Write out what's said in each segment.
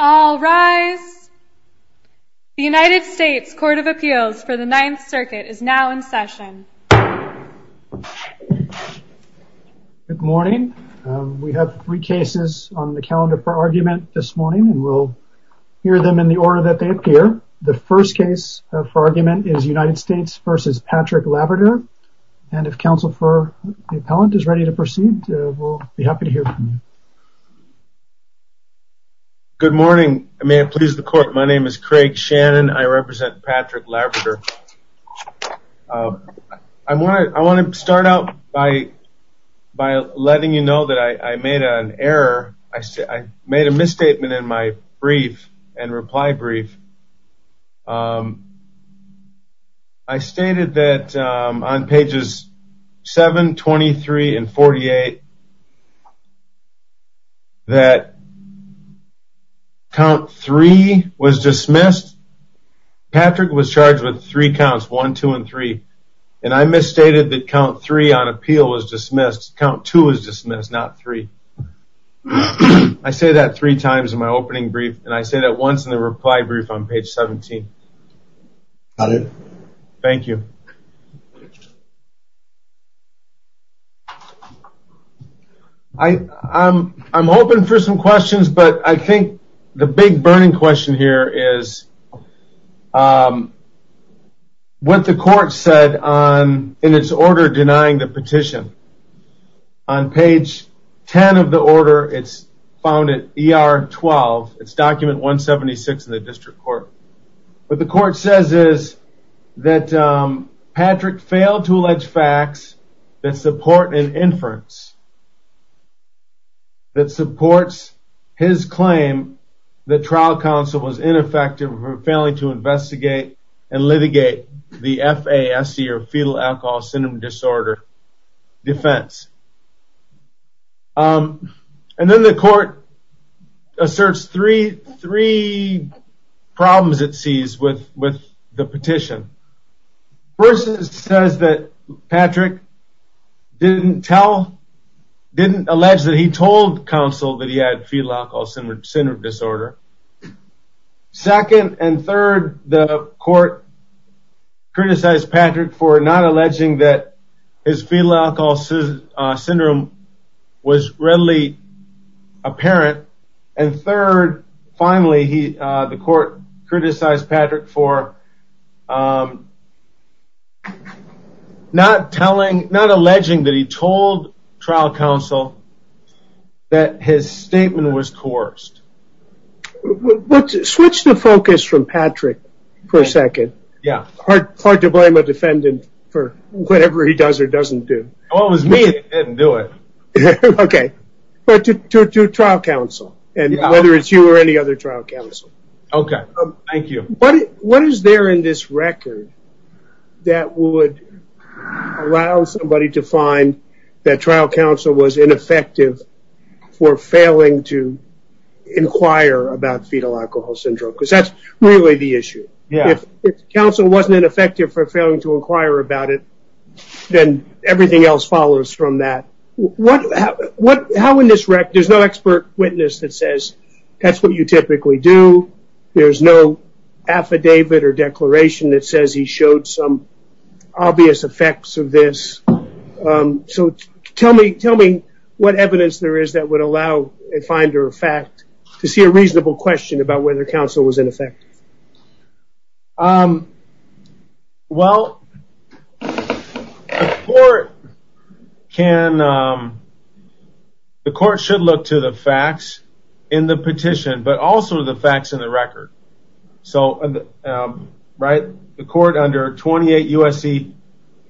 All rise. The United States Court of Appeals for the Ninth Circuit is now in session. Good morning. We have three cases on the calendar for argument this morning and we'll hear them in the order that they appear. The first case for argument is United States v. Patrick Laverdure, and if counsel for the appellant is ready to proceed, we'll be happy to hear from you. Good morning. May it please the court, my name is Craig Shannon. I represent Patrick Laverdure. I want to start out by letting you know that I made an error. I made a misstatement in my brief and reply brief. I stated that on pages 7, 23, and 48 that count 3 was dismissed. Patrick was charged with three counts, 1, 2, and 3. And I misstated that count 3 on appeal was dismissed. Count 2 was dismissed, not 3. I say that three times in my opening brief, and I say that once in the reply brief on page 17. Thank you. I'm open for some questions, but I think the big burning question here is what the court said in its order denying the petition. On page 10 of the order, it's found at ER 12, it's document 176 in the district court. What the court says is that Patrick failed to allege facts that support an inference. That supports his claim that trial counsel was ineffective for failing to investigate and litigate the FASC or fetal alcohol syndrome disorder defense. And then the court asserts three problems it sees with the petition. First, it says that Patrick didn't tell, didn't allege that he told counsel that he had fetal alcohol syndrome disorder. Second and third, the court criticized Patrick for not alleging that his fetal alcohol syndrome was readily apparent. And third, finally, the court criticized Patrick for not alleging that he told trial counsel that his statement was coerced. Switch the focus from Patrick for a second. Yeah. Hard to blame a defendant for whatever he does or doesn't do. Well, it was me that didn't do it. Okay. But to trial counsel. And whether it's you or any other trial counsel. Okay. Thank you. What is there in this record that would allow somebody to find that trial counsel was ineffective for failing to inquire about fetal alcohol syndrome? Because that's really the issue. Yeah. If counsel wasn't ineffective for failing to inquire about it, then everything else follows from that. How in this record, there's no expert witness that says that's what you typically do. There's no affidavit or declaration that says he showed some obvious effects of this. So tell me what evidence there is that would allow a finder of fact to see a reasonable question about whether counsel was ineffective. Well, the court should look to the facts in the petition, but also the facts in the record. So the court under 28 U.S.C.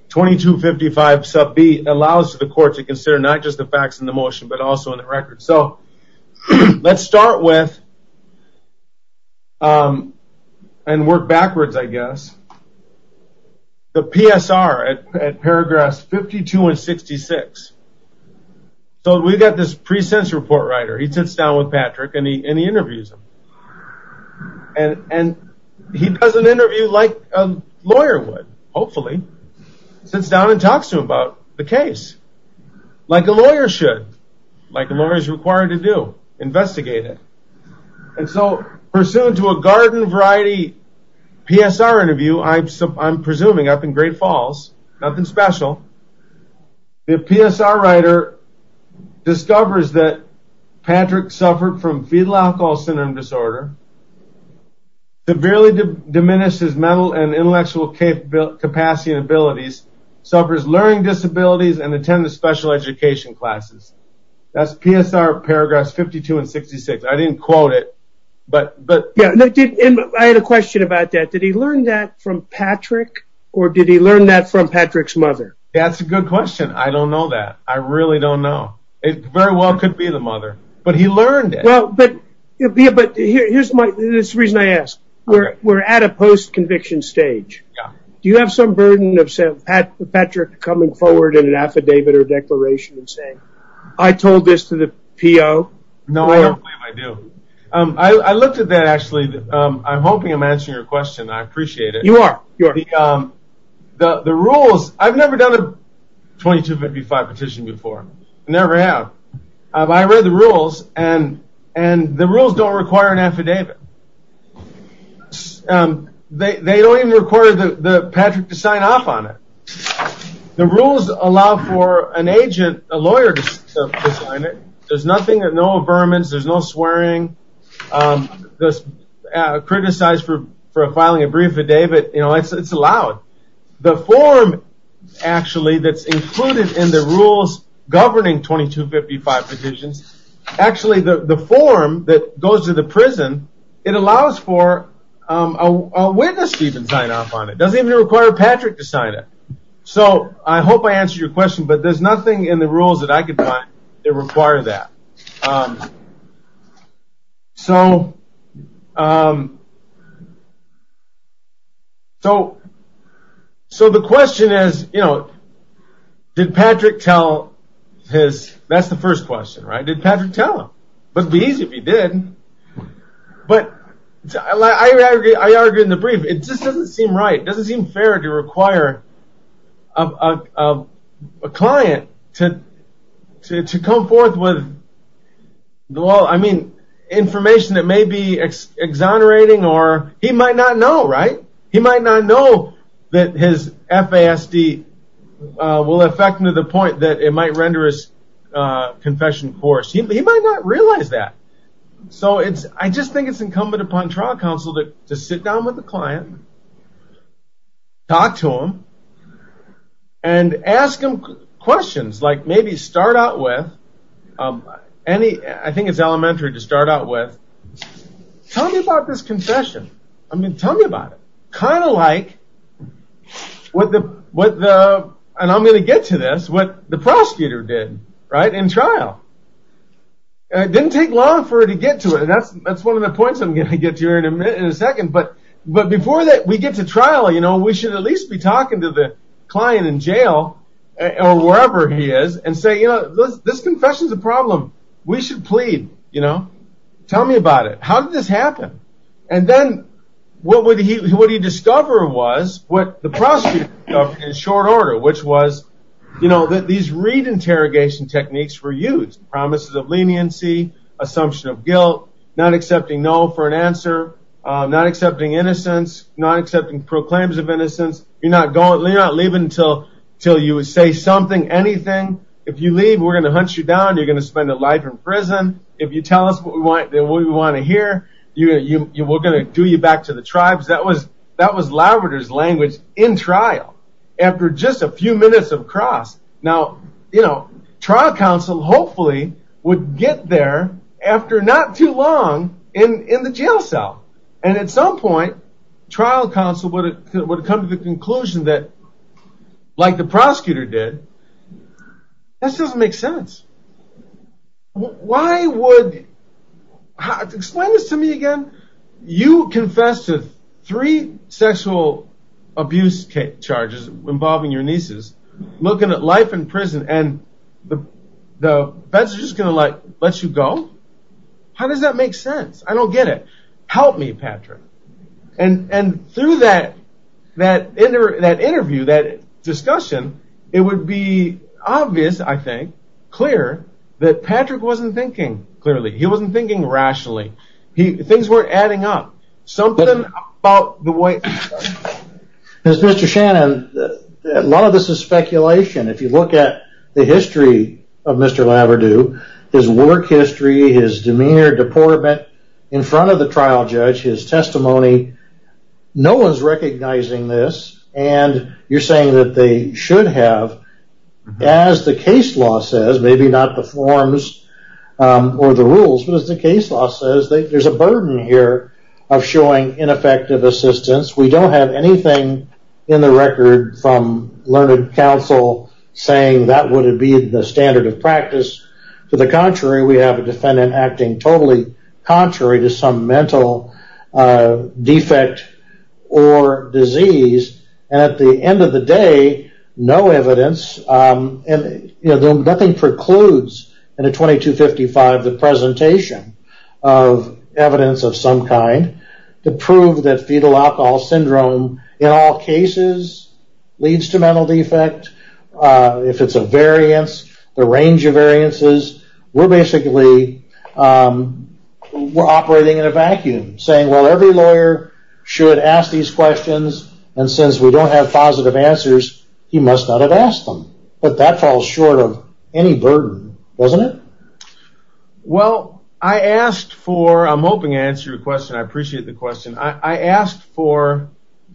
2255 sub B allows the court to consider not just the facts in the motion, but also in the record. So let's start with and work backwards, I guess, the PSR at paragraphs 52 and 66. So we've got this pre-sense report writer. He sits down with Patrick and he interviews him. And he does an interview like a lawyer would, hopefully. Sits down and talks to him about the case like a lawyer should, like a lawyer is required to do, investigate it. And so pursuant to a garden variety PSR interview, I'm presuming up in Great Falls, nothing special. The PSR writer discovers that Patrick suffered from fetal alcohol syndrome disorder. Severely diminished his mental and intellectual capacity and abilities. Suffers learning disabilities and attended special education classes. That's PSR paragraphs 52 and 66. I didn't quote it, but... I had a question about that. Did he learn that from Patrick or did he learn that from Patrick's mother? That's a good question. I don't know that. I really don't know. It very well could be the mother. But he learned it. But here's the reason I ask. We're at a post-conviction stage. Do you have some burden of Patrick coming forward in an affidavit or declaration and saying, I told this to the PO? No, I don't believe I do. I looked at that, actually. I'm hoping I'm answering your question. I appreciate it. You are. The rules, I've never done a 2255 petition before. Never have. I read the rules, and the rules don't require an affidavit. They don't even require Patrick to sign off on it. The rules allow for an agent, a lawyer, to sign it. There's nothing, no averments, there's no swearing, criticized for filing a brief affidavit. It's allowed. The form, actually, that's included in the rules governing 2255 petitions, actually, the form that goes to the prison, it allows for a witness to even sign off on it. It doesn't even require Patrick to sign it. I hope I answered your question, but there's nothing in the rules that I could find that require that. The question is, did Patrick tell his, that's the first question, right? Did Patrick tell him? It would be easy if he did. I argue in the brief, it just doesn't seem right. For a client to come forth with, well, I mean, information that may be exonerating, or he might not know, right? He might not know that his FASD will affect him to the point that it might render his confession forced. He might not realize that. I just think it's incumbent upon trial counsel to sit down with the client, talk to him, and ask him questions. Maybe start out with, I think it's elementary to start out with, tell me about this confession. Tell me about it. Kind of like, and I'm going to get to this, what the prosecutor did in trial. It didn't take long for her to get to it, and that's one of the points I'm going to get to in a second. But before we get to trial, we should at least be talking to the client in jail, or wherever he is, and say, this confession's a problem. We should plead. Tell me about it. How did this happen? And then what he discovered was what the prosecutor did in short order, which was that these re-interrogation techniques were used. Promises of leniency, assumption of guilt, not accepting no for an answer, not accepting innocence, not accepting proclaims of innocence. You're not leaving until you say something, anything. If you leave, we're going to hunt you down. If you tell us what we want to hear, we're going to do you back to the tribes. That was Labrador's language in trial, after just a few minutes of cross. Now, trial counsel hopefully would get there after not too long in the jail cell. And at some point, trial counsel would come to the conclusion that, like the prosecutor did, this doesn't make sense. Explain this to me again. You confessed to three sexual abuse charges involving your nieces, looking at life in prison, and the judge is just going to let you go? How does that make sense? I don't get it. Help me, Patrick. And through that interview, that discussion, it would be obvious, I think, clear, that Patrick wasn't thinking clearly. He wasn't thinking rationally. Things weren't adding up. Mr. Shannon, a lot of this is speculation. If you look at the history of Mr. Labrador, his work history, his demeanor, deportment, in front of the trial judge, his testimony, no one's recognizing this. And you're saying that they should have, as the case law says, maybe not the forms or the rules, but as the case law says, there's a burden here of showing ineffective assistance. We don't have anything in the record from learned counsel saying that would be the standard of practice. To the contrary, we have a defendant acting totally contrary to some mental defect or disease. And at the end of the day, no evidence, and nothing precludes in a 2255 the presentation of evidence of some kind to prove that fetal alcohol syndrome, in all cases, leads to mental defect. If it's a variance, the range of variances, we're basically operating in a vacuum, saying, well, every lawyer should ask these questions. And since we don't have positive answers, he must not have asked them. But that falls short of any burden, doesn't it? Well, I asked for, I'm hoping to answer your question, I appreciate the question, I asked for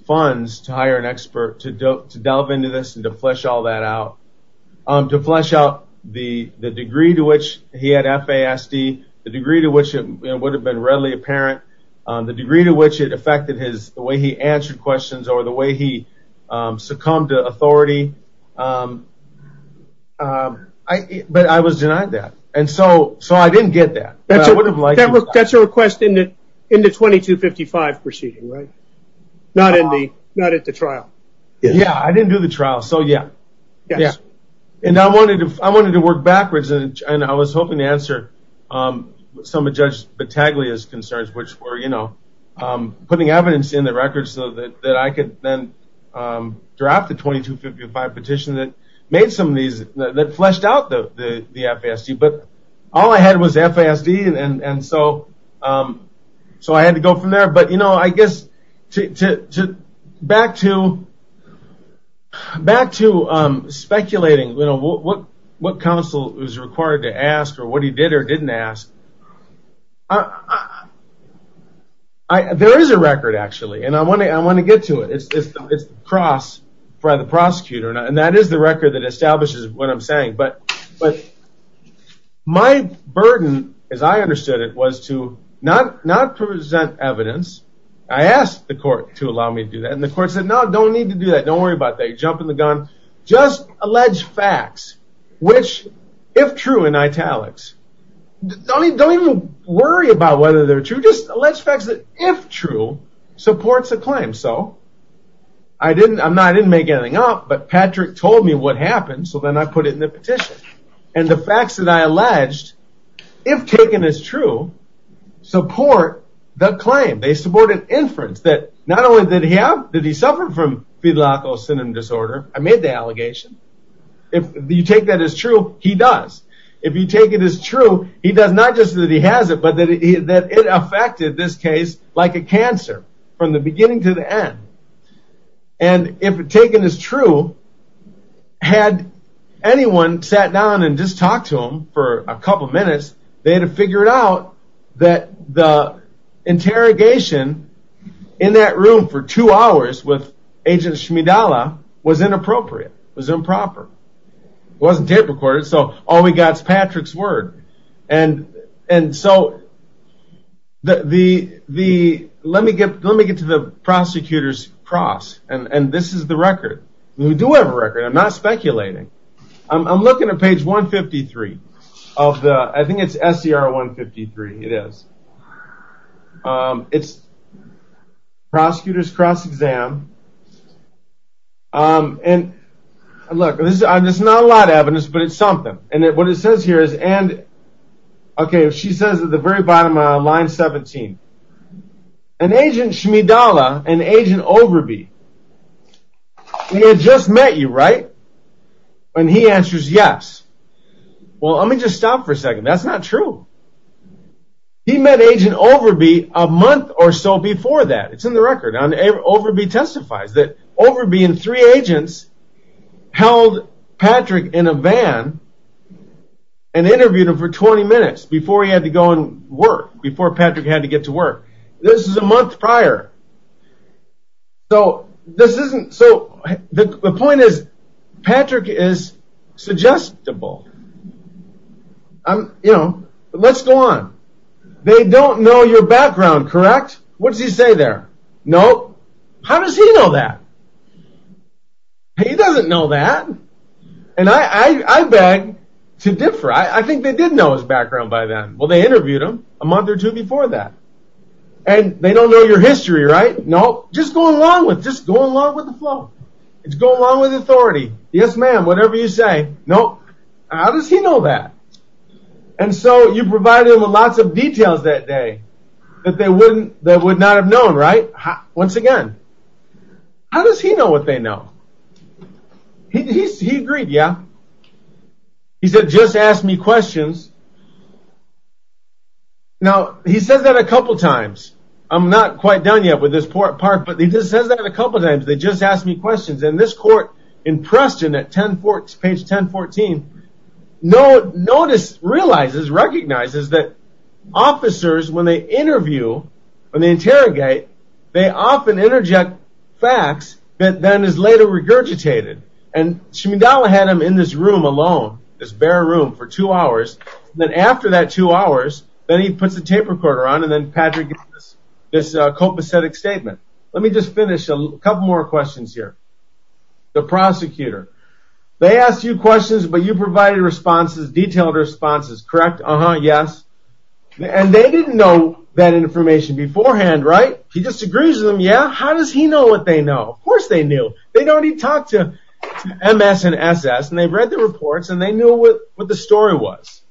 funds to hire an expert to delve into this and to flesh all that out. To flesh out the degree to which he had FASD, the degree to which it would have been readily apparent, the degree to which it affected the way he answered questions or the way he succumbed to authority. But I was denied that. So I didn't get that. That's a request in the 2255 proceeding, right? Not at the trial. Yeah, I didn't do the trial, so yeah. And I wanted to work backwards, and I was hoping to answer some of Judge Battaglia's concerns, which were, you know, putting evidence in the record so that I could then draft the 2255 petition that made some of these, that fleshed out the FASD. But all I had was FASD, and so I had to go from there. But, you know, I guess back to speculating what counsel is required to ask or what he did or didn't ask, there is a record, actually, and I want to get to it. It's the cross by the prosecutor, and that is the record that establishes what I'm saying. But my burden, as I understood it, was to not present evidence. I asked the court to allow me to do that, and the court said, no, don't need to do that. Don't worry about that. You jump in the gun. Just allege facts, which, if true in italics, don't even worry about whether they're true. Just allege facts that, if true, supports a claim. I didn't make anything up, but Patrick told me what happened, so then I put it in the petition. And the facts that I alleged, if taken as true, support the claim. They support an inference that not only did he have, that he suffered from fidelity syndrome disorder. I made the allegation. If you take that as true, he does. If you take it as true, he does not just that he has it, but that it affected this case like a cancer, from the beginning to the end. And if taken as true, had anyone sat down and just talked to him for a couple minutes, they'd have figured out that the interrogation in that room for two hours with Agent Shmidala was inappropriate, was improper. It wasn't tape recorded, so all we got is Patrick's word. And so, let me get to the prosecutor's cross, and this is the record. We do have a record. I'm not speculating. I'm looking at page 153 of the, I think it's SCR 153. It is. It's prosecutor's cross-exam. And, look, this is not a lot of evidence, but it's something. And what it says here is, and, okay, she says at the very bottom of line 17, an Agent Shmidala and Agent Overby, they had just met you, right? And he answers yes. Well, let me just stop for a second. That's not true. He met Agent Overby a month or so before that. It's in the record. Overby testifies that Overby and three agents held Patrick in a van and interviewed him for 20 minutes before he had to go and work, before Patrick had to get to work. This is a month prior. So, the point is, Patrick is suggestible. You know, let's go on. They don't know your background, correct? What does he say there? Nope. How does he know that? He doesn't know that. And I beg to differ. I think they did know his background by then. Well, they interviewed him a month or two before that. And they don't know your history, right? Nope. Just go along with it. Just go along with the flow. Just go along with authority. Yes, ma'am, whatever you say. Nope. How does he know that? And so, you provided him with lots of details that day that they would not have known, right? Once again, how does he know what they know? He agreed, yeah. He said, just ask me questions. Now, he says that a couple times. I'm not quite done yet with this part, but he just says that a couple times. They just asked me questions. And this court, in Preston, at page 1014, notices, realizes, recognizes that officers, when they interview, when they interrogate, they often interject facts that then is later regurgitated. And Shimendala had him in this room alone, this bare room, for two hours. Then after that two hours, then he puts the tape recorder on, and then Patrick gives this copacetic statement. Let me just finish a couple more questions here. The prosecutor. They asked you questions, but you provided responses, detailed responses, correct? Uh-huh, yes. And they didn't know that information beforehand, right? He just agrees with them, yeah. How does he know what they know? Of course they knew. They'd already talked to MS and SS, and they read the reports, and they knew what the story was.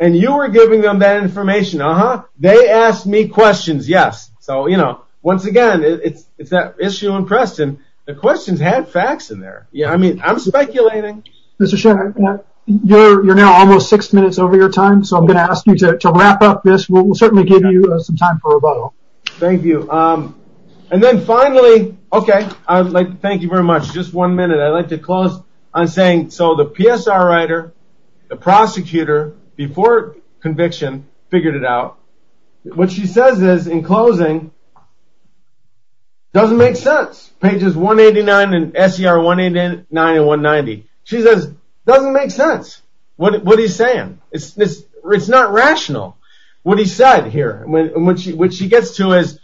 And you were giving them that information, uh-huh. They asked me questions, yes. So, you know, once again, it's that issue in Preston. The questions had facts in there. Yeah, I mean, I'm speculating. Mr. Shimendala, you're now almost six minutes over your time, so I'm going to ask you to wrap up this. We'll certainly give you some time for rebuttal. Thank you. And then finally, okay, thank you very much. Just one minute. I'd like to close on saying, so the PSR writer, the prosecutor, before conviction, figured it out. What she says is, in closing, doesn't make sense. Pages 189 and SCR 189 and 190. She says, doesn't make sense. What is he saying? It's not rational what he said here. What she gets to is,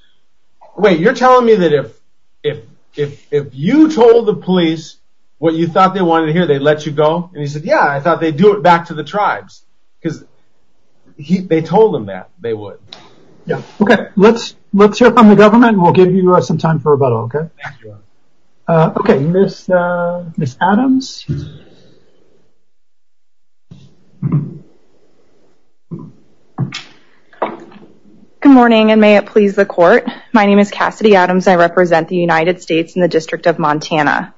wait, you're telling me that if you told the police what you thought they wanted to hear, they'd let you go? And he said, yeah, I thought they'd do it back to the tribes. Because they told him that they would. Okay, let's hear from the government, and we'll give you some time for rebuttal, okay? Thank you. Okay, Ms. Adams. Good morning, and may it please the court. My name is Cassidy Adams, and I represent the United States in the District of Montana.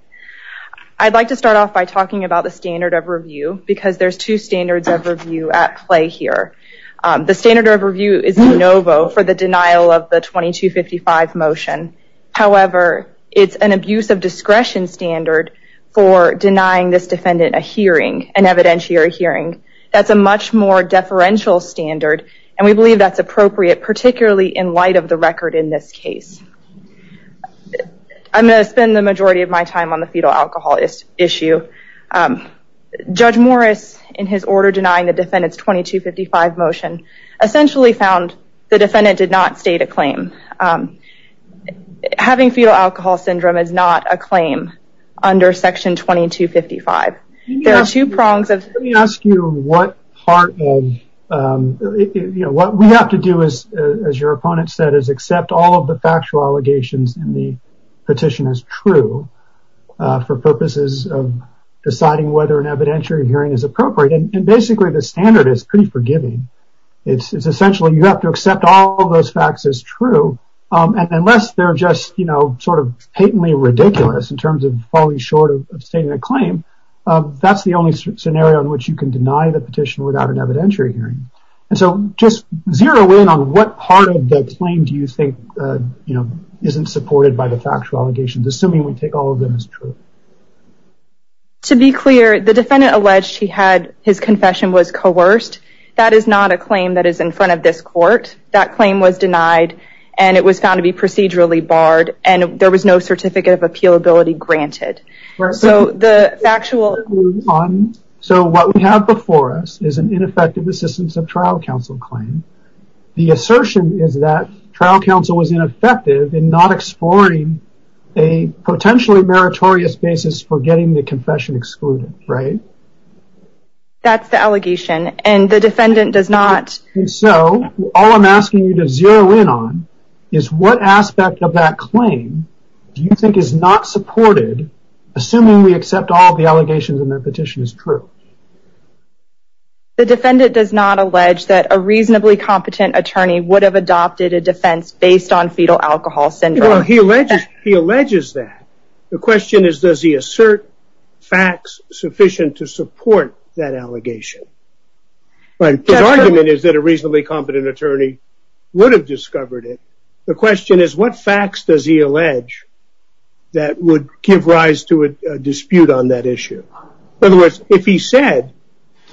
I'd like to start off by talking about the standard of review, because there's two standards of review at play here. The standard of review is de novo for the denial of the 2255 motion. However, it's an abuse of discretion standard for denying this defendant a hearing, an evidentiary hearing. That's a much more deferential standard, and we believe that's appropriate, particularly in light of the record in this case. I'm going to spend the majority of my time on the fetal alcohol issue. Judge Morris, in his order denying the defendant's 2255 motion, essentially found the defendant did not state a claim. Having fetal alcohol syndrome is not a claim under section 2255. Let me ask you what part of, you know, what we have to do, as your opponent said, is accept all of the factual allegations in the petition as true for purposes of deciding whether an evidentiary hearing is appropriate. And basically, the standard is pretty forgiving. It's essentially you have to accept all of those facts as true, and unless they're just, you know, sort of patently ridiculous in terms of falling short of stating a claim, that's the only scenario in which you can deny the petition without an evidentiary hearing. And so just zero in on what part of that claim do you think, you know, isn't supported by the factual allegations, assuming we take all of them as true. To be clear, the defendant alleged he had, his confession was coerced. That is not a claim that is in front of this court. That claim was denied, and it was found to be procedurally barred, and there was no certificate of appealability granted. So the factual... So what we have before us is an ineffective assistance of trial counsel claim. The assertion is that trial counsel was ineffective in not exploring a potentially meritorious basis for getting the confession excluded, right? That's the allegation, and the defendant does not... And so all I'm asking you to zero in on is what aspect of that claim do you think is not supported, assuming we accept all of the allegations in that petition as true? The defendant does not allege that a reasonably competent attorney would have adopted a defense based on fetal alcohol syndrome. Well, he alleges that. The question is, does he assert facts sufficient to support that allegation? His argument is that a reasonably competent attorney would have discovered it. The question is, what facts does he allege that would give rise to a dispute on that issue? In other words, if he said,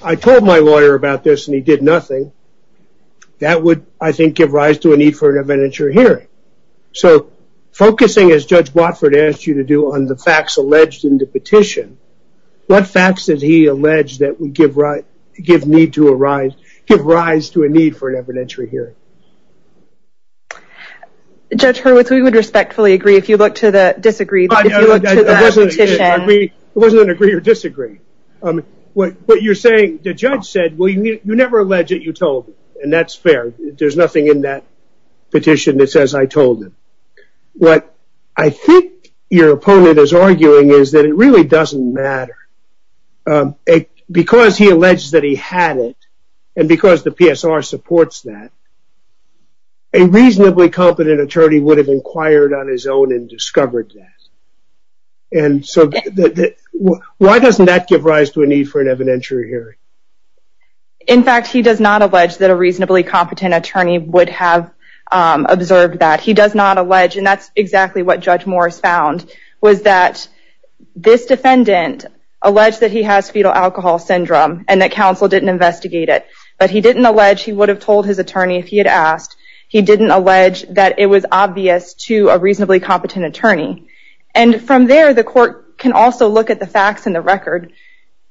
I told my lawyer about this and he did nothing, that would, I think, give rise to a need for an evidentiary hearing. So focusing, as Judge Watford asked you to do, on the facts alleged in the petition, what facts does he allege that would give rise to a need for an evidentiary hearing? Judge Hurwitz, we would respectfully agree if you look to the disagreed... It wasn't an agree or disagree. What you're saying, the judge said, well, you never allege it, you told me, and that's fair. There's nothing in that petition that says I told him. What I think your opponent is arguing is that it really doesn't matter. Because he alleged that he had it, and because the PSR supports that, a reasonably competent attorney would have inquired on his own and discovered that. And so, why doesn't that give rise to a need for an evidentiary hearing? In fact, he does not allege that a reasonably competent attorney would have observed that. He does not allege, and that's exactly what Judge Morris found, was that this defendant alleged that he has fetal alcohol syndrome, and that counsel didn't investigate it. But he didn't allege he would have told his attorney if he had asked. He didn't allege that it was obvious to a reasonably competent attorney. And from there, the court can also look at the facts in the record.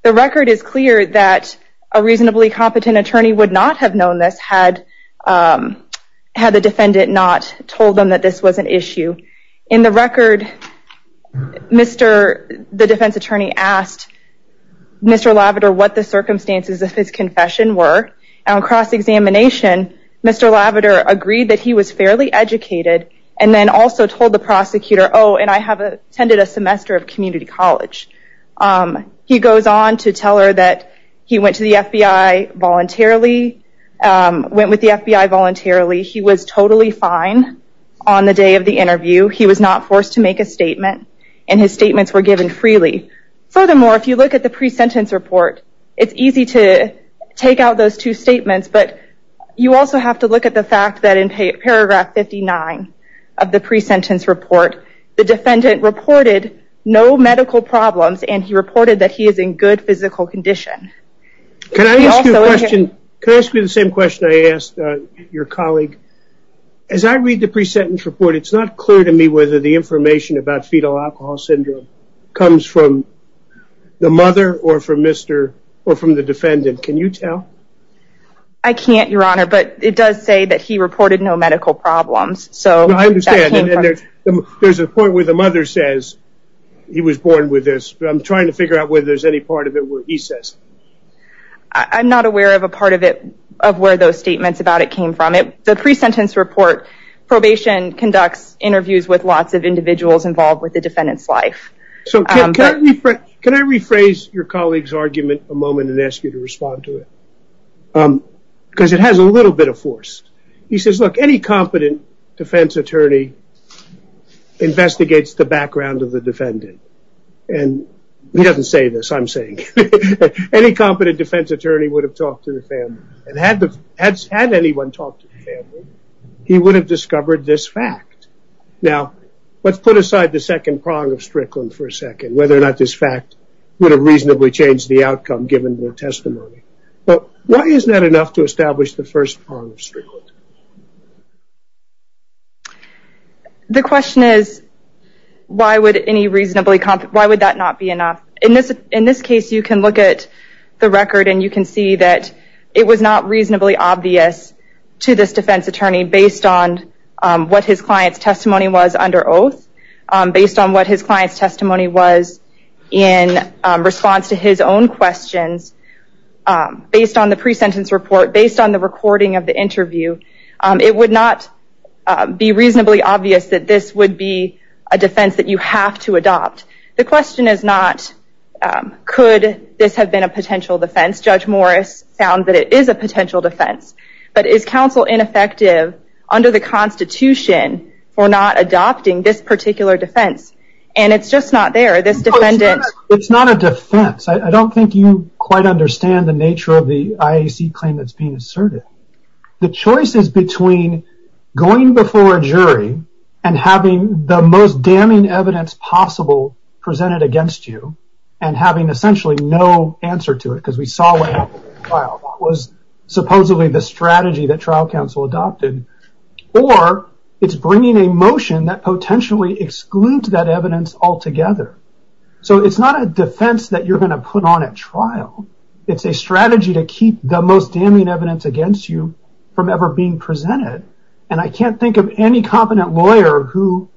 The record is clear that a reasonably competent attorney would not have known this had the defendant not told them that this was an issue. In the record, the defense attorney asked Mr. Lavender what the circumstances of his confession were. On cross-examination, Mr. Lavender agreed that he was fairly educated, and then also told the prosecutor, oh, and I have attended a semester of community college. He goes on to tell her that he went to the FBI voluntarily, went with the FBI voluntarily. He was totally fine on the day of the interview. He was not forced to make a statement, and his statements were given freely. Furthermore, if you look at the pre-sentence report, it's easy to take out those two statements, but you also have to look at the fact that in paragraph 59 of the pre-sentence report, the defendant reported no medical problems, and he reported that he is in good physical condition. Can I ask you a question? Can I ask you the same question I asked your colleague? As I read the pre-sentence report, it's not clear to me whether the information about fetal alcohol syndrome comes from the mother or from the defendant. Can you tell? I can't, Your Honor, but it does say that he reported no medical problems. I understand, and there's a point where the mother says he was born with this, but I'm trying to figure out whether there's any part of it where he says. I'm not aware of a part of it of where those statements about it came from. The pre-sentence report, probation conducts interviews with lots of individuals involved with the defendant's life. Can I rephrase your colleague's argument a moment and ask you to respond to it? Because it has a little bit of force. He says, look, any competent defense attorney investigates the background of the defendant, and he doesn't say this. I'm saying any competent defense attorney would have talked to the family, and had anyone talked to the family, he would have discovered this fact. Now, let's put aside the second prong of Strickland for a second, whether or not this fact would have reasonably changed the outcome given their testimony. Why is that enough to establish the first prong of Strickland? The question is, why would that not be enough? In this case, you can look at the record, and you can see that it was not reasonably obvious to this defense attorney, based on what his client's testimony was under oath, based on what his client's testimony was in response to his own questions, based on the pre-sentence report, based on the recording of the interview. It would not be reasonably obvious that this would be a defense that you have to adopt. The question is not, could this have been a potential defense? Judge Morris found that it is a potential defense. But is counsel ineffective under the Constitution for not adopting this particular defense? And it's just not there. It's not a defense. I don't think you quite understand the nature of the IAC claim that's being asserted. The choice is between going before a jury, and having the most damning evidence possible presented against you, and having essentially no answer to it, because we saw what happened in the trial. That was supposedly the strategy that trial counsel adopted. Or, it's bringing a motion that potentially excludes that evidence altogether. It's not a defense that you're going to put on at trial. It's a strategy to keep the most damning evidence against you from ever being presented. I can't think of any competent lawyer who,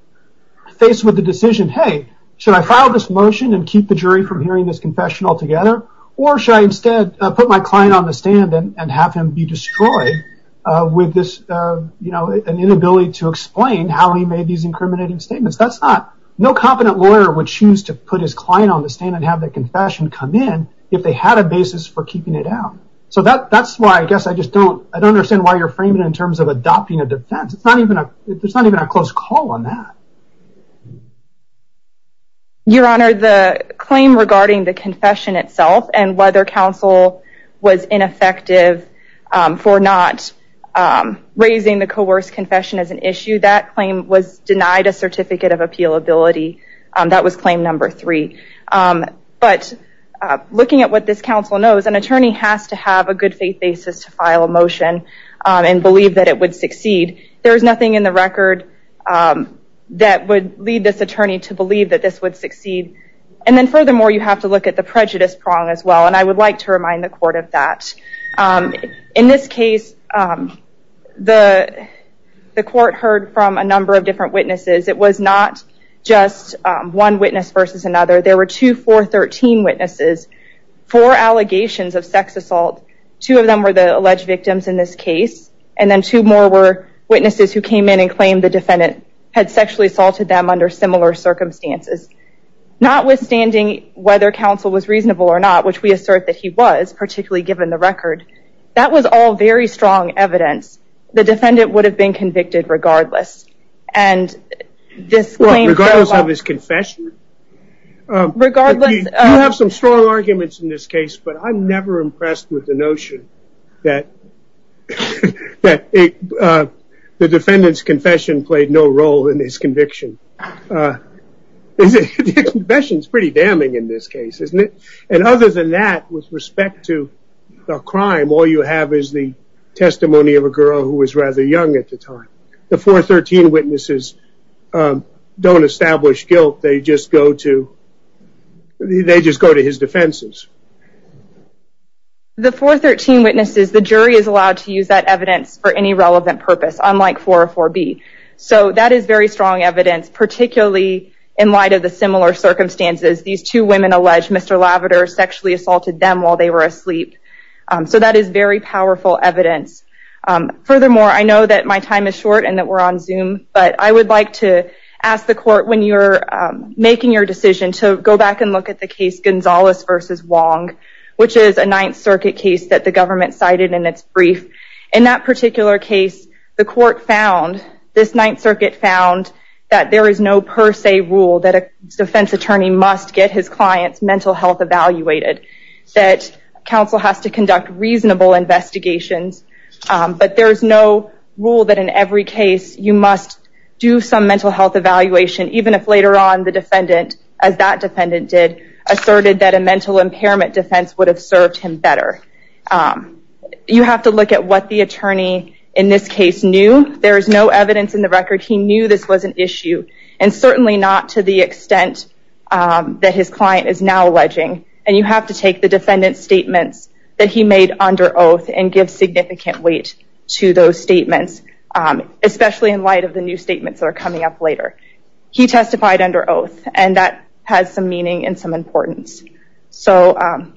faced with the decision, hey, should I file this motion and keep the jury from hearing this confession altogether? Or should I instead put my client on the stand and have him be destroyed with an inability to explain how he made these incriminating statements? No competent lawyer would choose to put his client on the stand and have that confession come in if they had a basis for keeping it out. So that's why I guess I just don't understand why you're framing it in terms of adopting a defense. There's not even a close call on that. Your Honor, the claim regarding the confession itself and whether counsel was ineffective for not raising the coerced confession as an issue, that claim was denied a certificate of appealability. That was claim number three. But looking at what this counsel knows, an attorney has to have a good faith basis to file a motion and believe that it would succeed. There's nothing in the record that would lead this attorney to believe that this would succeed. And then furthermore, you have to look at the prejudice prong as well. And I would like to remind the court of that. In this case, the court heard from a number of different witnesses. It was not just one witness versus another. There were two 413 witnesses, four allegations of sex assault. Two of them were the alleged victims in this case. And then two more were witnesses who came in and claimed the defendant had sexually assaulted them under similar circumstances. Notwithstanding whether counsel was reasonable or not, which we assert that he was, particularly given the record, that was all very strong evidence. The defendant would have been convicted regardless. Regardless of his confession? You have some strong arguments in this case, but I'm never impressed with the notion that the defendant's confession played no role in his conviction. The confession is pretty damning in this case, isn't it? And other than that, with respect to the crime, all you have is the testimony of a girl who was rather young at the time. The 413 witnesses don't establish guilt. They just go to his defenses. The 413 witnesses, the jury is allowed to use that evidence for any relevant purpose, unlike 404B. So that is very strong evidence, particularly in light of the similar circumstances. These two women allege Mr. Lavater sexually assaulted them while they were asleep. So that is very powerful evidence. Furthermore, I know that my time is short and that we're on Zoom, but I would like to ask the court, when you're making your decision, to go back and look at the case Gonzalez v. Wong, which is a Ninth Circuit case that the government cited in its brief. In that particular case, the court found, this Ninth Circuit found, that there is no per se rule that a defense attorney must get his client's mental health evaluated, that counsel has to conduct reasonable investigations, but there is no rule that in every case you must do some mental health evaluation, even if later on the defendant, as that defendant did, asserted that a mental impairment defense would have served him better. You have to look at what the attorney in this case knew. There is no evidence in the record. He knew this was an issue, and certainly not to the extent that his client is now alleging. And you have to take the defendant's statements that he made under oath and give significant weight to those statements, especially in light of the new statements that are coming up later. He testified under oath, and that has some meaning and some importance. So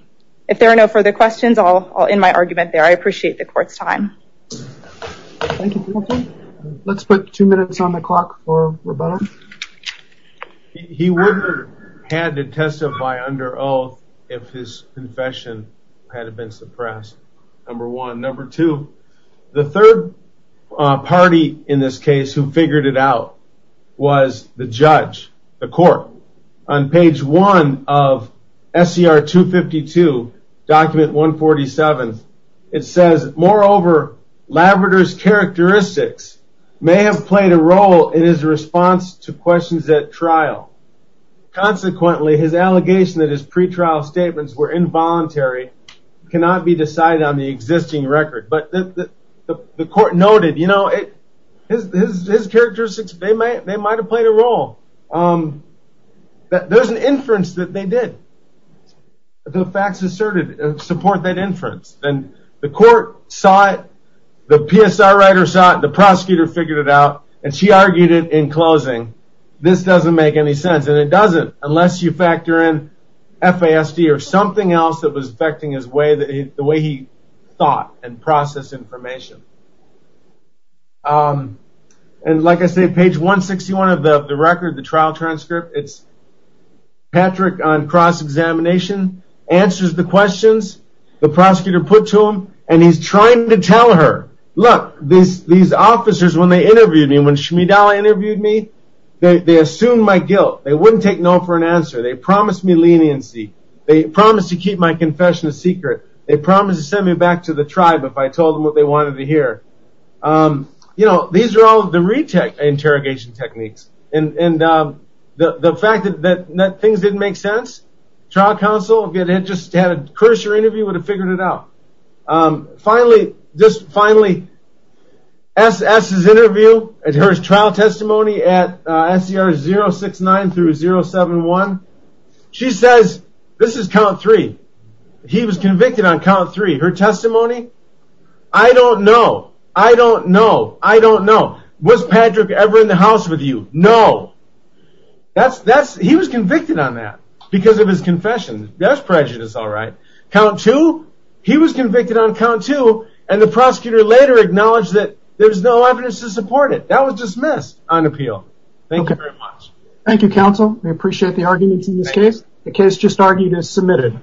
if there are no further questions, I'll end my argument there. I appreciate the court's time. Thank you, Timothy. Let's put two minutes on the clock for Roberto. He would have had to testify under oath if his confession had been suppressed, number one. Number two, the third party in this case who figured it out was the judge, the court. On page one of SCR 252, document 147, it says, Moreover, Labrador's characteristics may have played a role in his response to questions at trial. Consequently, his allegation that his pretrial statements were involuntary cannot be decided on the existing record. But the court noted, you know, his characteristics, they might have played a role. There's an inference that they did. The facts asserted support that inference. And the court saw it, the PSR writer saw it, the prosecutor figured it out, and she argued it in closing. This doesn't make any sense, and it doesn't unless you factor in FASD or something else that was affecting his way, the way he thought and processed information. And like I said, page 161 of the record, the trial transcript, it's Patrick on cross-examination, answers the questions. The prosecutor put to him, and he's trying to tell her, look, these officers, when they interviewed me, when Shmidala interviewed me, they assumed my guilt. They wouldn't take no for an answer. They promised me leniency. They promised to keep my confession a secret. They promised to send me back to the tribe if I told them what they wanted to hear. You know, these are all the re-interrogation techniques. And the fact that things didn't make sense, trial counsel, if you had just had a cursor interview, would have figured it out. Finally, SS's interview, her trial testimony at SCR 069 through 071, she says, this is count three, he was convicted on count three. Her testimony, I don't know, I don't know, I don't know. Was Patrick ever in the house with you? No. He was convicted on that because of his confession. That's prejudice, all right. Count two, he was convicted on count two, and the prosecutor later acknowledged that there's no evidence to support it. That was dismissed on appeal. Thank you very much. Thank you, counsel. We appreciate the arguments in this case. The case just argued is submitted.